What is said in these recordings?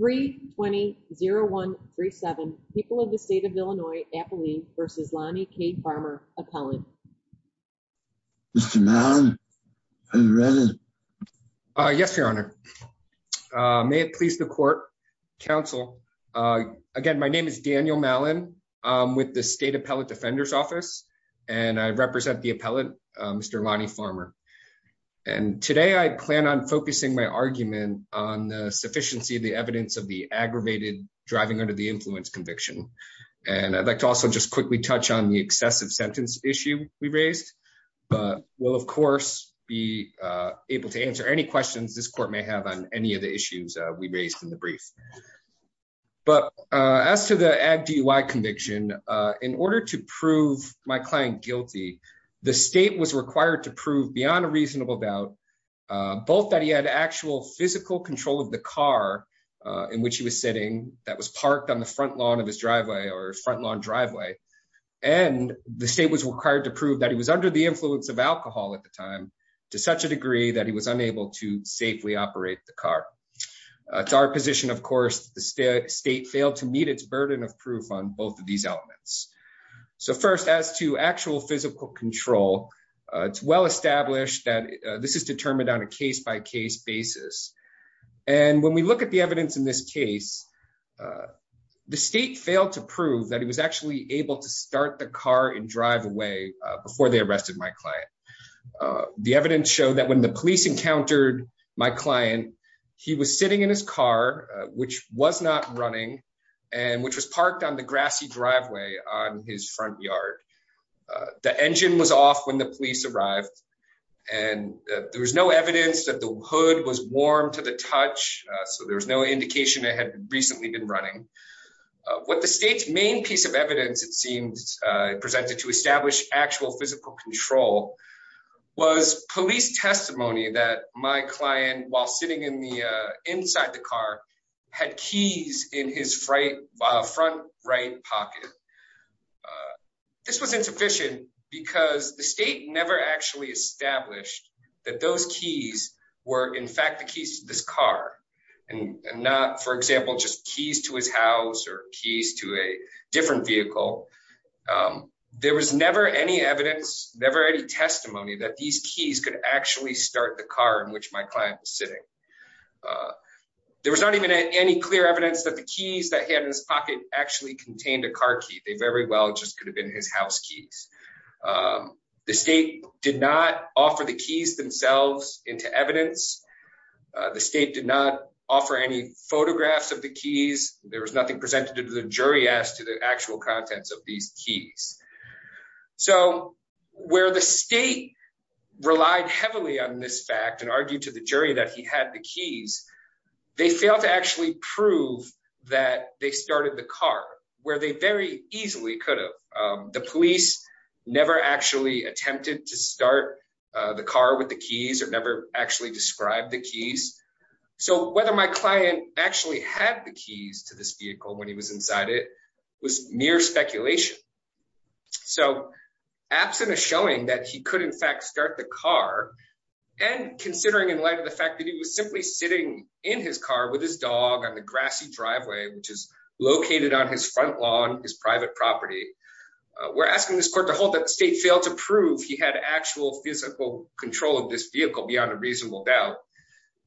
320-0137, people of the state of Illinois, Appaline v. Lonnie K. Farmer, Appellant. Mr. Mallon, are you ready? Yes, Your Honor. May it please the court, counsel. Again, my name is Daniel Mallon. I'm with the State Appellant Defender's Office, and I represent the appellant, Mr. Lonnie Farmer. And today I plan on focusing my argument on the sufficiency of the evidence of the aggravated driving under the influence conviction. And I'd like to also just quickly touch on the excessive sentence issue we raised. But we'll, of course, be able to answer any questions this court may have on any of the issues we raised in the brief. But as to the ag DUI conviction, in order to prove my client guilty, the state was of the car in which he was sitting that was parked on the front lawn of his driveway or front lawn driveway. And the state was required to prove that he was under the influence of alcohol at the time, to such a degree that he was unable to safely operate the car. It's our position, of course, the state failed to meet its burden of proof on both of these elements. So first, as to actual physical control, it's well established that this is determined on a case basis. And when we look at the evidence in this case, the state failed to prove that he was actually able to start the car and drive away before they arrested my client. The evidence showed that when the police encountered my client, he was sitting in his car, which was not running, and which was parked on the grassy driveway on his front yard. The engine was off when the police arrived. And there was no evidence that the hood was warm to the touch. So there was no indication it had recently been running. What the state's main piece of evidence it seems presented to establish actual physical control was police testimony that my client while sitting in the inside the car, had keys in his right front right pocket. This was insufficient, because the state never actually established that those keys were in fact the keys to this car and not, for example, just keys to his house or keys to a different vehicle. There was never any evidence, never any testimony that these keys could actually start the car in which my client was sitting. There was not even any clear evidence that the keys that he had in his pocket actually contained a car key. They very well just could have been his house keys. The state did not offer the keys themselves into evidence. The state did not offer any photographs of the keys. There was nothing presented to the jury as to the actual contents of these keys. So where the state relied heavily on this fact and argued to the jury that he had the keys, they failed to actually prove that they started the car, where they very easily could have. The police never actually attempted to start the car with the keys or never actually described the keys. So whether my client actually had the keys to this vehicle when he was inside it was mere speculation. So absent of showing that he could in fact start the car and considering in light of the fact that he was simply sitting in his car with his dog on the grassy driveway which is located on his front lawn, his private property, we're asking this court to hold that the state failed to prove he had actual physical control of this vehicle beyond a reasonable doubt.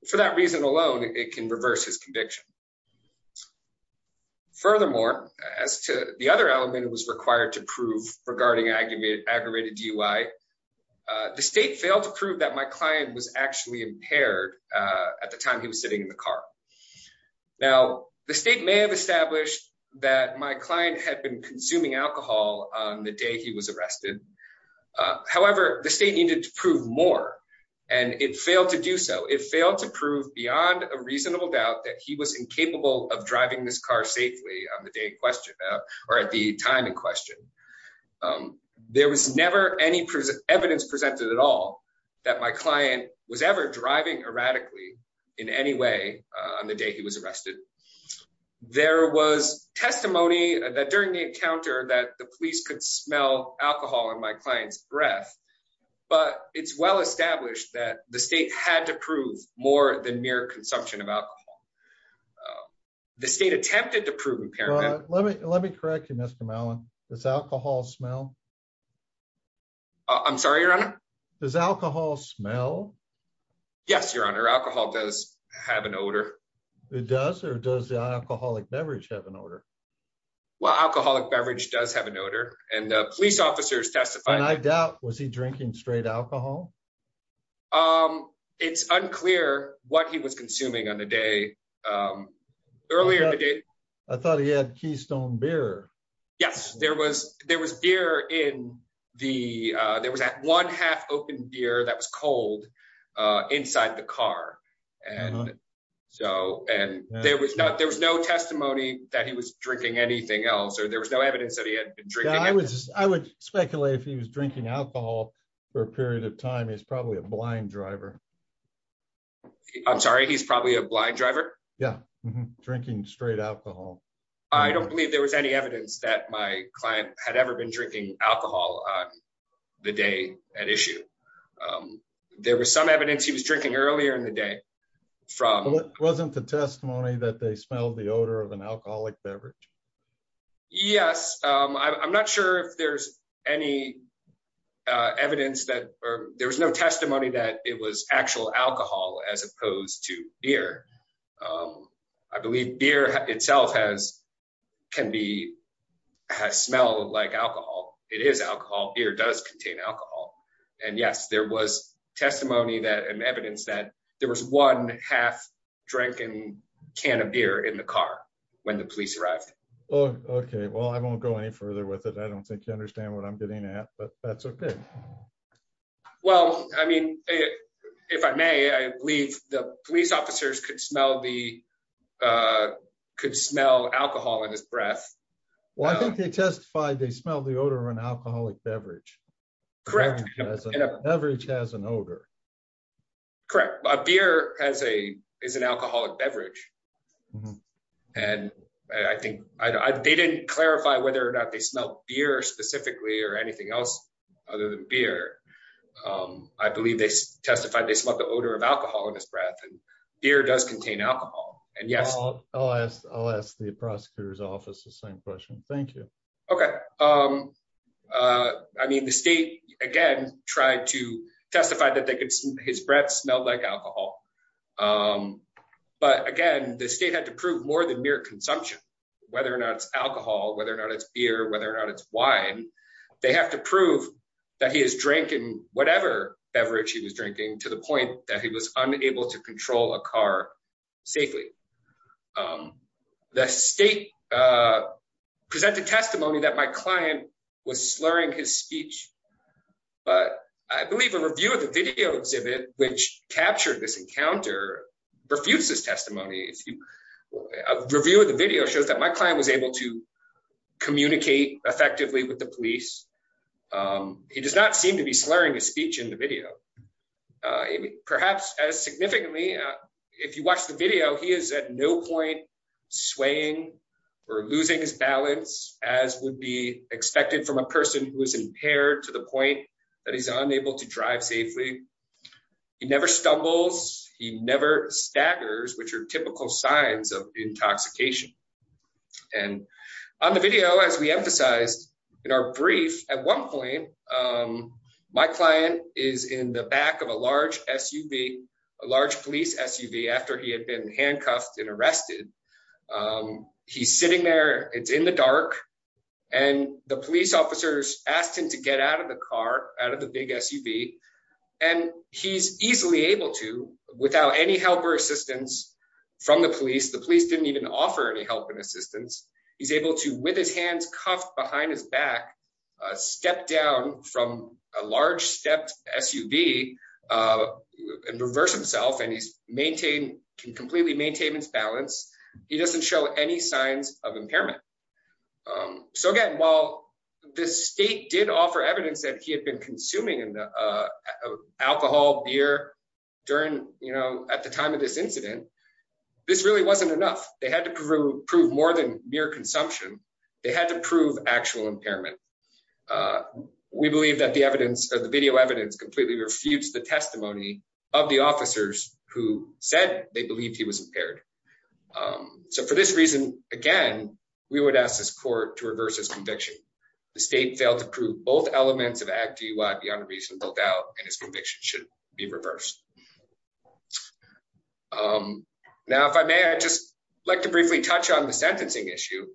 For that reason alone it can reverse his conviction. Furthermore, as to the other element was required to prove regarding aggravated DUI, the state failed to prove that my client was actually impaired at the time he was sitting in the car. Now the state may have established that my client had been consuming alcohol on the day he was arrested. However, the state needed to prove more and it failed to do so. It failed to prove beyond a reasonable doubt that he was incapable of driving this car safely on the day or at the time in question. There was never any evidence presented at all that my client was ever driving erratically in any way on the day he was arrested. There was testimony that during the encounter that the police could smell alcohol in my client's breath but it's well established that the state had to prove more than mere consumption of alcohol. Uh the state attempted to prove impairment. Let me let me correct you Mr. Mallon. Does alcohol smell? I'm sorry your honor? Does alcohol smell? Yes your honor alcohol does have an odor. It does or does the alcoholic beverage have an odor? Well alcoholic beverage does have an odor and uh police officers testified. I doubt was he drinking straight alcohol? Um it's unclear what he was consuming on um earlier today. I thought he had keystone beer. Yes there was there was beer in the uh there was that one half open beer that was cold uh inside the car and so and there was not there was no testimony that he was drinking anything else or there was no evidence that he had been drinking. I was I would speculate if he was drinking alcohol for a period of time. He's probably a blind driver. I'm sorry he's probably a blind driver? Yeah drinking straight alcohol. I don't believe there was any evidence that my client had ever been drinking alcohol on the day at issue. Um there was some evidence he was drinking earlier in the day from. Wasn't the testimony that they smelled the odor of an alcoholic beverage? Yes um I'm not sure if there's any uh evidence that or there was no testimony that it was actual alcohol as opposed to beer. Um I believe beer itself has can be has smell like alcohol. It is alcohol beer does contain alcohol and yes there was testimony that and evidence that there was one half drinking can of beer in the car when the police arrived. Oh okay well I won't go any further with it. I don't think you understand what I'm getting at but that's it. Well I mean if I may I believe the police officers could smell the uh could smell alcohol in his breath. Well I think they testified they smelled the odor of an alcoholic beverage. Correct. A beverage has an odor. Correct a beer has a is an alcoholic beverage and I think I they didn't clarify whether or not they smelled beer specifically or anything else. Other than beer um I believe they testified they smelled the odor of alcohol in his breath and beer does contain alcohol and yes. I'll ask I'll ask the prosecutor's office the same question. Thank you. Okay um uh I mean the state again tried to testify that they could his breath smelled like alcohol um but again the state had to prove more than mere consumption whether or not it's alcohol whether or not it's beer whether or not it's wine they have to prove that he is drinking whatever beverage he was drinking to the point that he was unable to control a car safely. Um the state uh presented testimony that my client was slurring his speech but I believe a review of the video exhibit which captured this encounter refutes this testimony. If you review the video shows my client was able to communicate effectively with the police. Um he does not seem to be slurring his speech in the video. Uh perhaps as significantly if you watch the video he is at no point swaying or losing his balance as would be expected from a person who is impaired to the point that he's unable to drive safely. He never stumbles he never staggers which are typical signs of intoxication. And on the video as we emphasized in our brief at one point um my client is in the back of a large SUV a large police SUV after he had been handcuffed and arrested. Um he's sitting there it's in the dark and the police officers asked him to get out of the car out of the big SUV and he's easily able to without any help or assistance from the police. The police didn't even offer any help and assistance. He's able to with his hands cuffed behind his back uh step down from a large stepped SUV uh and reverse himself and he's maintained can completely maintain his balance. He doesn't show any signs of impairment. Um so again while the state did offer evidence that he had been consuming alcohol beer during you know at the time of this incident this really wasn't enough. They had to prove prove more than mere consumption. They had to prove actual impairment. Uh we believe that the evidence or the video evidence completely refutes the testimony of the officers who said they believed he was impaired. Um so for this reason again we would ask this court to reverse his conviction. The state failed to prove both elements of Act DUI beyond reasonable doubt and his conviction should be reversed. Um now if I may I'd just like to briefly touch on the sentencing issue.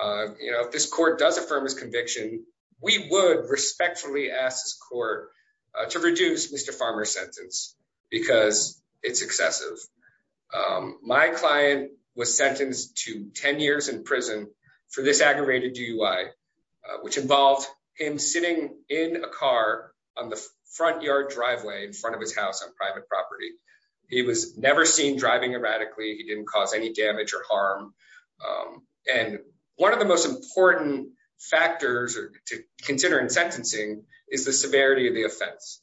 Uh you know if this court does affirm his conviction we would respectfully ask this court to reduce Mr. excessive. Um my client was sentenced to 10 years in prison for this aggravated DUI which involved him sitting in a car on the front yard driveway in front of his house on private property. He was never seen driving erratically. He didn't cause any damage or harm um and one of the most important factors to consider in sentencing is the severity of the offense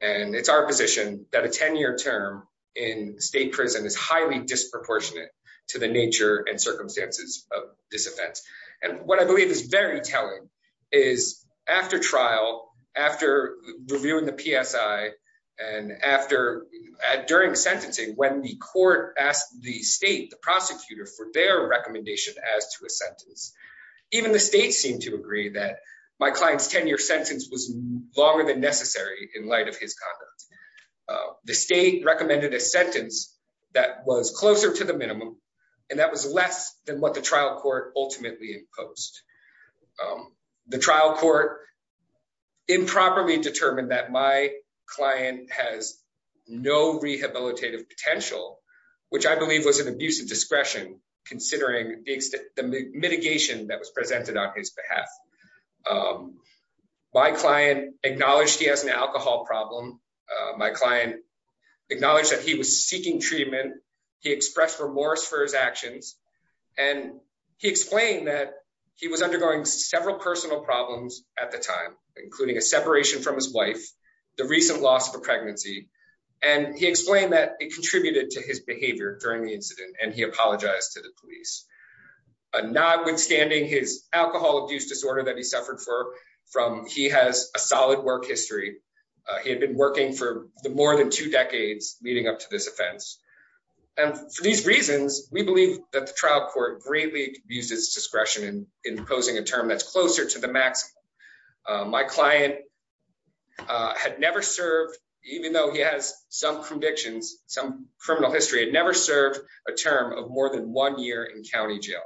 and it's our position that a 10-year term in state prison is highly disproportionate to the nature and circumstances of this offense and what I believe is very telling is after trial after reviewing the PSI and after during sentencing when the court asked the state the prosecutor for their recommendation as to a sentence even the state seemed to agree that my client's 10-year sentence was longer than necessary in light of his conduct. The state recommended a sentence that was closer to the minimum and that was less than what the trial court ultimately imposed. The trial court improperly determined that my client has no rehabilitative potential which I believe was an abuse of discretion considering the mitigation that was presented on his behalf. My client acknowledged he has an alcohol problem. My client acknowledged that he was seeking treatment. He expressed remorse for his actions and he explained that he was undergoing several personal problems at the time including a separation from his wife, the recent loss of a pregnancy, and he explained that it contributed to his behavior during the incident and he apologized to the police. Notwithstanding his alcohol abuse disorder that he suffered from, he has a solid work history. He had been working for the more than two decades leading up to this offense and for these reasons we believe that the trial court greatly abused his discretion in imposing a term that's closer to the maximum. My client had never served, even though he has some convictions, some criminal history, had never served a term of more than one year in county jail.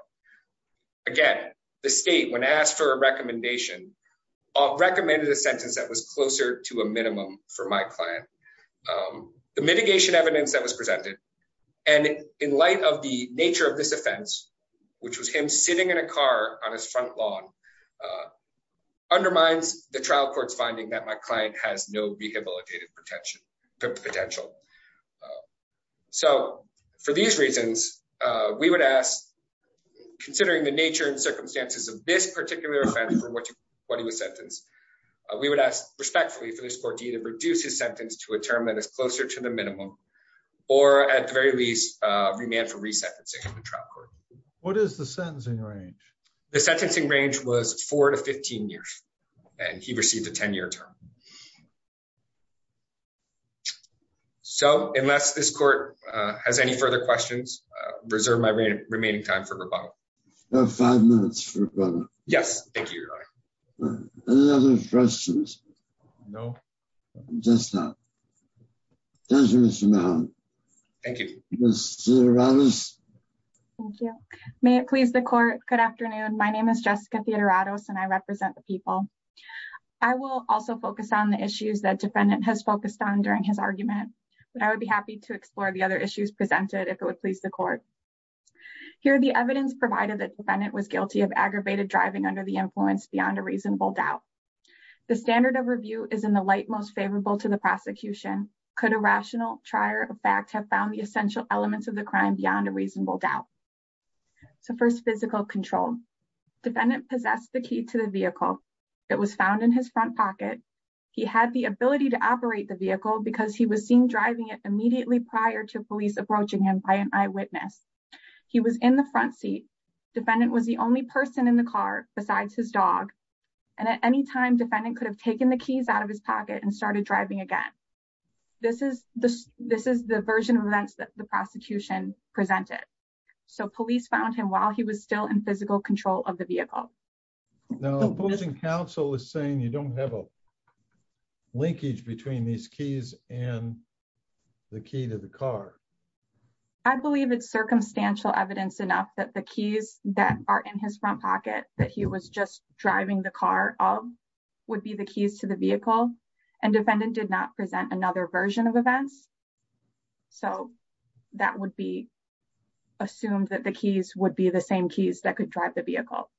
Again, the state when asked for a recommendation recommended a sentence that was closer to a minimum for my client. The mitigation evidence that was presented and in light of the nature of this offense which was him sitting in a car on his front lawn undermines the trial court's finding that my client has no rehabilitative potential. So for these reasons, we would ask considering the nature and circumstances of this particular offense for what he was sentenced, we would ask respectfully for this court to either reduce his sentence to a term that is closer to the minimum or at the very least remand for the sentencing range was four to 15 years and he received a 10-year term. So unless this court has any further questions, I reserve my remaining time for rebuttal. You have five minutes for rebuttal. Yes, thank you. Any other questions? No. Just that. Thank you, Mr. Mahoney. Thank you. Mr. Ramos. Thank you. May it please the court. Good afternoon. My name is Jessica Theodoratos and I represent the people. I will also focus on the issues that defendant has focused on during his argument, but I would be happy to explore the other issues presented if it would please the court. Here the evidence provided that defendant was guilty of aggravated driving under the influence beyond a reasonable doubt. The standard of review is in the light most favorable to the prosecution. Could a rational trier of fact have found the essential elements of the crime beyond a reasonable doubt? So first physical control. Defendant possessed the key to the vehicle that was found in his front pocket. He had the ability to operate the vehicle because he was seen driving it immediately prior to police approaching him by an eyewitness. He was in the front seat. Defendant was the only person in the car besides his dog and at any time defendant could have taken the this is the this is the version of events that the prosecution presented. So police found him while he was still in physical control of the vehicle. Now opposing counsel is saying you don't have a linkage between these keys and the key to the car. I believe it's circumstantial evidence enough that the keys that are in his front pocket that he was just driving the car of would be the keys to the vehicle and defendant did not present another version of events. So that would be assumed that the keys would be the same keys that could drive the vehicle.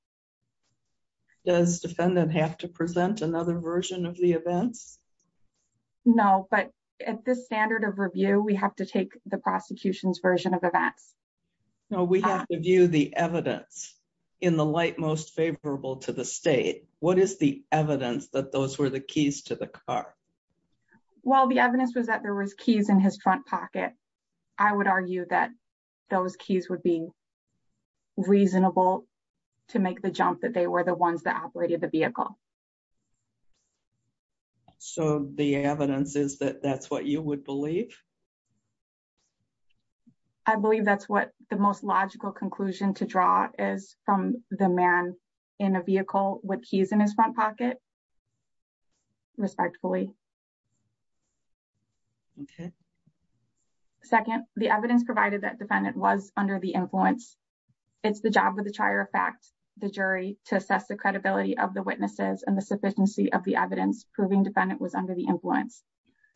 Does defendant have to present another version of the events? No but at this standard of review we have to take the prosecution's version of events. Now we have to view the evidence in the light most favorable to the state. What is the evidence that those were the keys to the car? Well the evidence was that there was keys in his front pocket. I would argue that those keys would be reasonable to make the jump that they were the ones that operated the vehicle. So the evidence is that that's what you would believe? I believe that's what the most logical conclusion to draw is from the man in a vehicle with keys in his front pocket respectfully. Okay second the evidence provided that defendant was under the influence. It's the job of the trier of fact the jury to assess the credibility of the witnesses and the sufficiency of the evidence proving defendant was under the influence.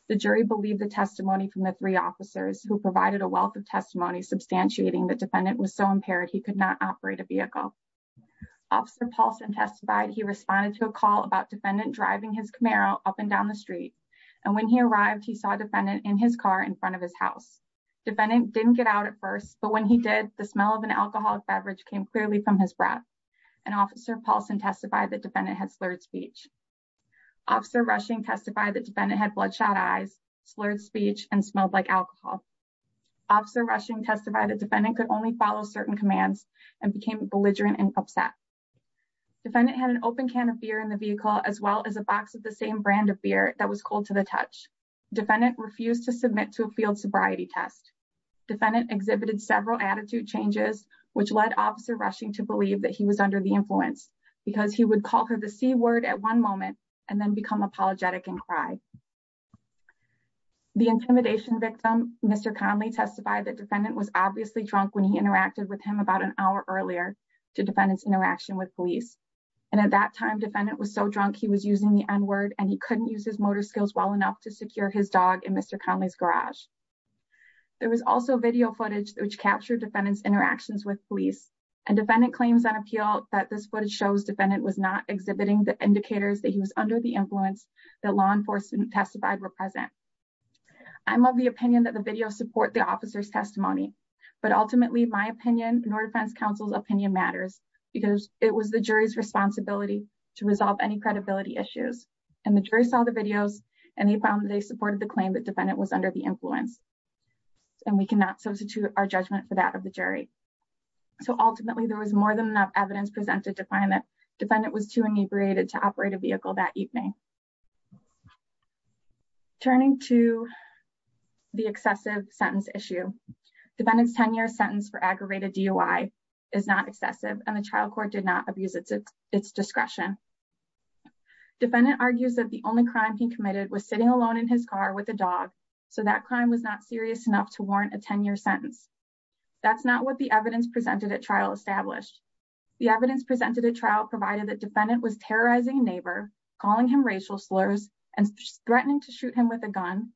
The jury believed the testimony from the three officers who provided a wealth of testimony substantiating that defendant was so impaired he could not operate a vehicle. Officer Paulson testified he responded to a call about defendant driving his Camaro up and down the street and when he arrived he saw a defendant in his car in front of his house. Defendant didn't get out at first but when he did the smell of an alcoholic beverage came clearly from his breath and officer Paulson testified that defendant had slurred speech. Officer Rushing testified that defendant had slurred speech and smelled like alcohol. Officer Rushing testified that defendant could only follow certain commands and became belligerent and upset. Defendant had an open can of beer in the vehicle as well as a box of the same brand of beer that was cold to the touch. Defendant refused to submit to a field sobriety test. Defendant exhibited several attitude changes which led officer Rushing to believe that he was under the influence because he would call her the c word at one moment and then become apologetic and cry. The intimidation victim Mr. Conley testified that defendant was obviously drunk when he interacted with him about an hour earlier to defendant's interaction with police and at that time defendant was so drunk he was using the n word and he couldn't use his motor skills well enough to secure his dog in Mr. Conley's garage. There was also video footage which captured defendant's interactions with police and defendant claims on appeal that this footage shows defendant was not exhibiting the indicators that he was under the influence that law enforcement testified were present. I'm of the opinion that the video support the officer's testimony but ultimately my opinion nor defense counsel's opinion matters because it was the jury's responsibility to resolve any credibility issues and the jury saw the videos and he found that they supported the claim that defendant was under the influence and we cannot substitute our judgment for that of the jury. So ultimately there was more evidence presented to find that defendant was too inebriated to operate a vehicle that evening. Turning to the excessive sentence issue, defendant's 10-year sentence for aggravated DOI is not excessive and the trial court did not abuse its discretion. Defendant argues that the only crime he committed was sitting alone in his car with a dog so that crime was not serious enough warrant a 10-year sentence. That's not what the evidence presented at trial established. The evidence presented at trial provided that defendant was terrorizing neighbor, calling him racial slurs and threatening to shoot him with a gun,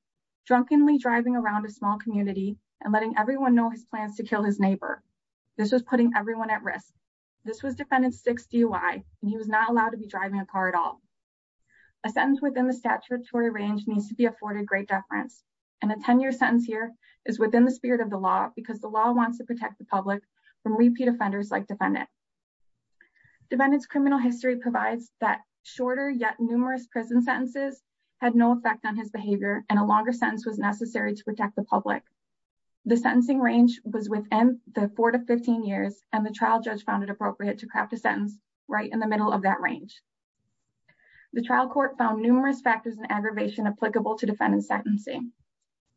drunkenly driving around a small community and letting everyone know his plans to kill his neighbor. This was putting everyone at risk. This was defendant's 6 DOI and he was not allowed to be driving a car at all. A sentence within the statutory range needs to be afforded great deference and a 10-year sentence here is within the spirit of the law because the law wants to protect the public from repeat offenders like defendant. Defendant's criminal history provides that shorter yet numerous prison sentences had no effect on his behavior and a longer sentence was necessary to protect the public. The sentencing range was within the 4 to 15 years and the trial judge found it appropriate to craft a sentence right in the middle of that range. The trial court found numerous factors applicable to defendant's sentencing.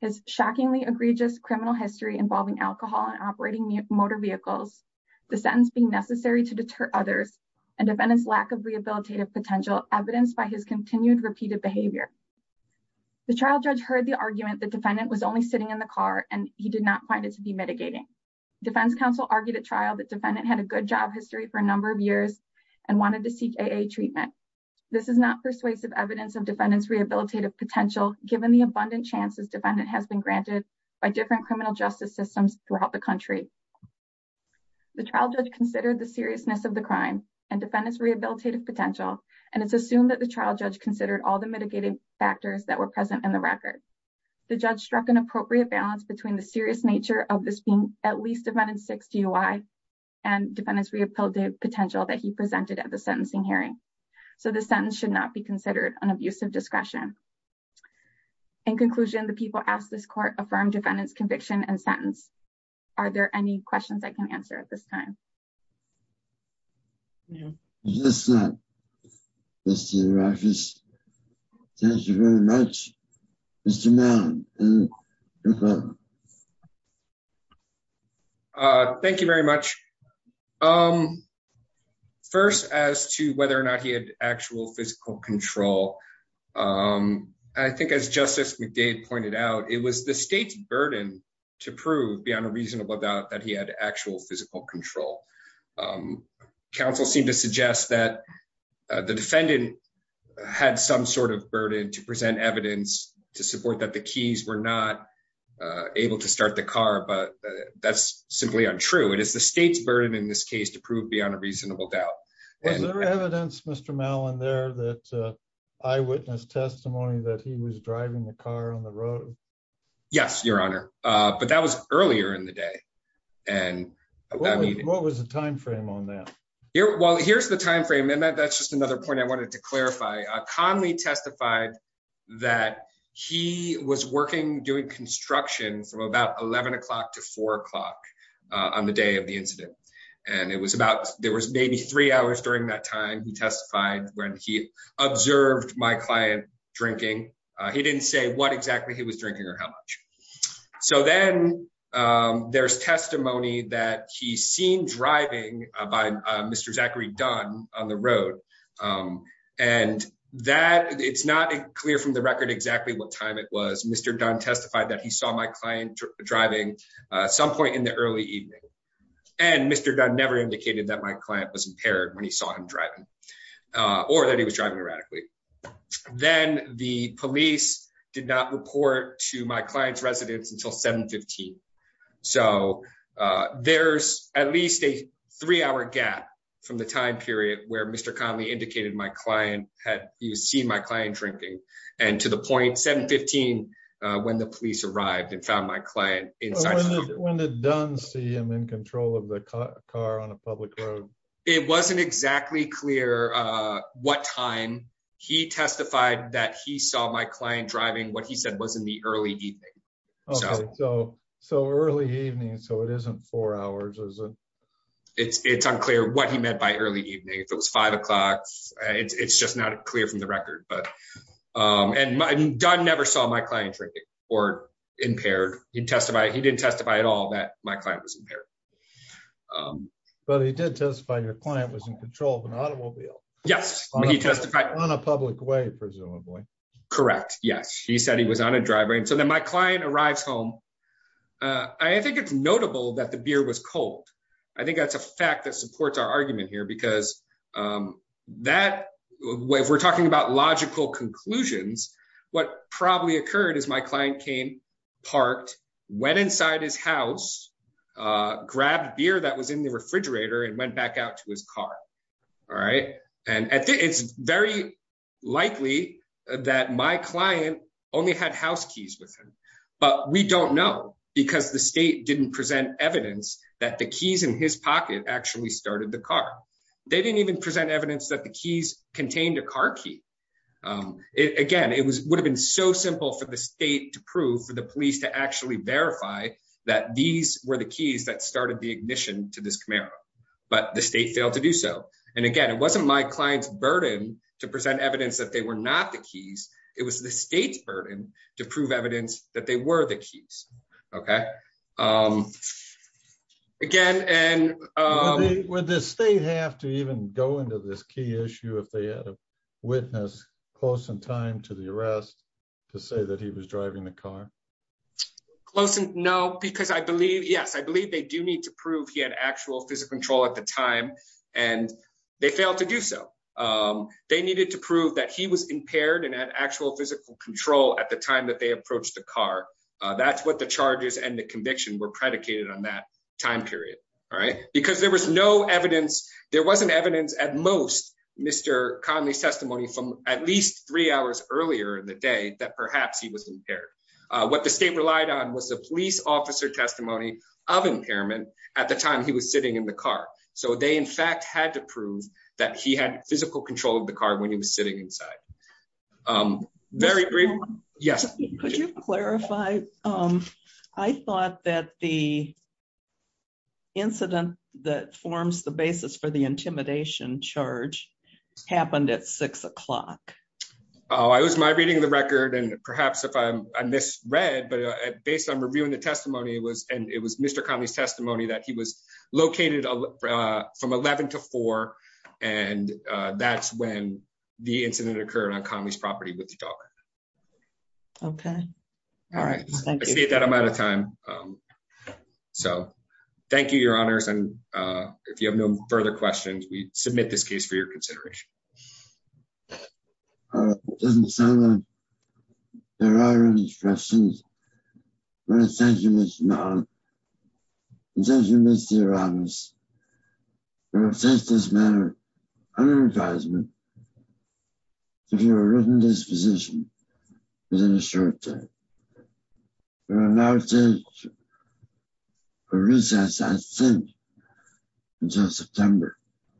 His shockingly egregious criminal history involving alcohol and operating motor vehicles, the sentence being necessary to deter others and defendant's lack of rehabilitative potential evidenced by his continued repeated behavior. The trial judge heard the argument that defendant was only sitting in the car and he did not find it to be mitigating. Defense counsel argued at trial that defendant had a good job history for a number of years and wanted to seek AA treatment. This is not persuasive evidence of defendant's potential given the abundant chances defendant has been granted by different criminal justice systems throughout the country. The trial judge considered the seriousness of the crime and defendant's rehabilitative potential and it's assumed that the trial judge considered all the mitigating factors that were present in the record. The judge struck an appropriate balance between the serious nature of this being at least defendant's 6 DUI and defendant's rehabilitative potential that he presented at the sentencing hearing. So this sentence should not be considered an abusive discretion. In conclusion, the people asked this court affirmed defendant's conviction and sentence. Are there any questions I can answer at this time? Thank you very much. First, as to whether or not he had actual physical control. I think as Justice McDade pointed out, it was the state's burden to prove beyond a reasonable doubt that he had actual physical control. Counsel seemed to suggest that the defendant had some sort of burden to present evidence to support that the keys were not able to start the car, but that's simply untrue. It is the state's burden in this case to prove beyond a reasonable doubt. Was there evidence, Mr. Mallon, there that eyewitness testimony that he was driving the What was the time frame on that? Well, here's the time frame. And that's just another point I wanted to clarify. Conley testified that he was working doing construction from about 11 o'clock to 4 o'clock on the day of the incident. And it was about there was maybe three hours during that time. He testified when he observed my client drinking. He didn't say what exactly he was that he seen driving by Mr. Zachary Dunn on the road. And that it's not clear from the record exactly what time it was Mr. Dunn testified that he saw my client driving some point in the early evening. And Mr. Dunn never indicated that my client was impaired when he saw him driving, or that he was driving erratically. Then the police did not report to my client's residence until 715. So there's at least a three hour gap from the time period where Mr. Conley indicated my client had you see my client drinking and to the point 715 when the police arrived and found my client in when it done see him in control of the car on a public road. It wasn't exactly clear what time he testified that he saw my client driving what he said was in the early evening. So so early evening so it isn't four hours is it? It's it's unclear what he meant by early evening if it was five o'clock. It's just not clear from the record. But and I never saw my client drinking or impaired. He testified he didn't testify at all that my client was impaired. But he did testify your client was in control of an automobile. Yes. He testified on a public way presumably. Correct. Yes. He said he was on a driveway. And so then my client arrives home. I think it's notable that the beer was cold. I think that's a fact that supports our argument here because that way we're talking about logical conclusions. What probably occurred is my client came parked went inside his house grabbed beer that was in the refrigerator and went back out his car. All right. And it's very likely that my client only had house keys with him. But we don't know because the state didn't present evidence that the keys in his pocket actually started the car. They didn't even present evidence that the keys contained a car key. Again it was would have been so simple for the state to prove for the police to actually verify that these were the to do so. And again it wasn't my client's burden to present evidence that they were not the keys. It was the state's burden to prove evidence that they were the keys. Okay. Again and would the state have to even go into this key issue if they had a witness close in time to the arrest to say that he was driving the car. Close and no because I believe yes I believe they do need to prove he had actual physical control at the time and they failed to do so. They needed to prove that he was impaired and had actual physical control at the time that they approached the car. That's what the charges and the conviction were predicated on that time period. All right. Because there was no evidence there wasn't evidence at most Mr. Conley's testimony from at least three hours earlier in the day that perhaps he was impaired. What the state relied on was the police officer testimony of impairment at the time he was sitting in the car. So they in fact had to prove that he had physical control of the car when he was sitting inside. Very brief. Yes. Could you clarify? I thought that the incident that forms the basis for the intimidation charge happened at six o'clock. Oh I was my reading the record and perhaps if I'm I misread but based on reviewing the testimony it was and it was Mr. Conley's testimony that he was located from 11 to 4 and that's when the incident occurred on Conley's property with the dog. Okay. All right. I see that I'm out of time so thank you your honors and if you have no further questions we submit this case for your consideration. I think uh there are any questions I want to thank you Mr. Mahon and thank you Mr. Roberts for taking this matter under advisement to be written disposition We will now take a recess I think until September. Thank you.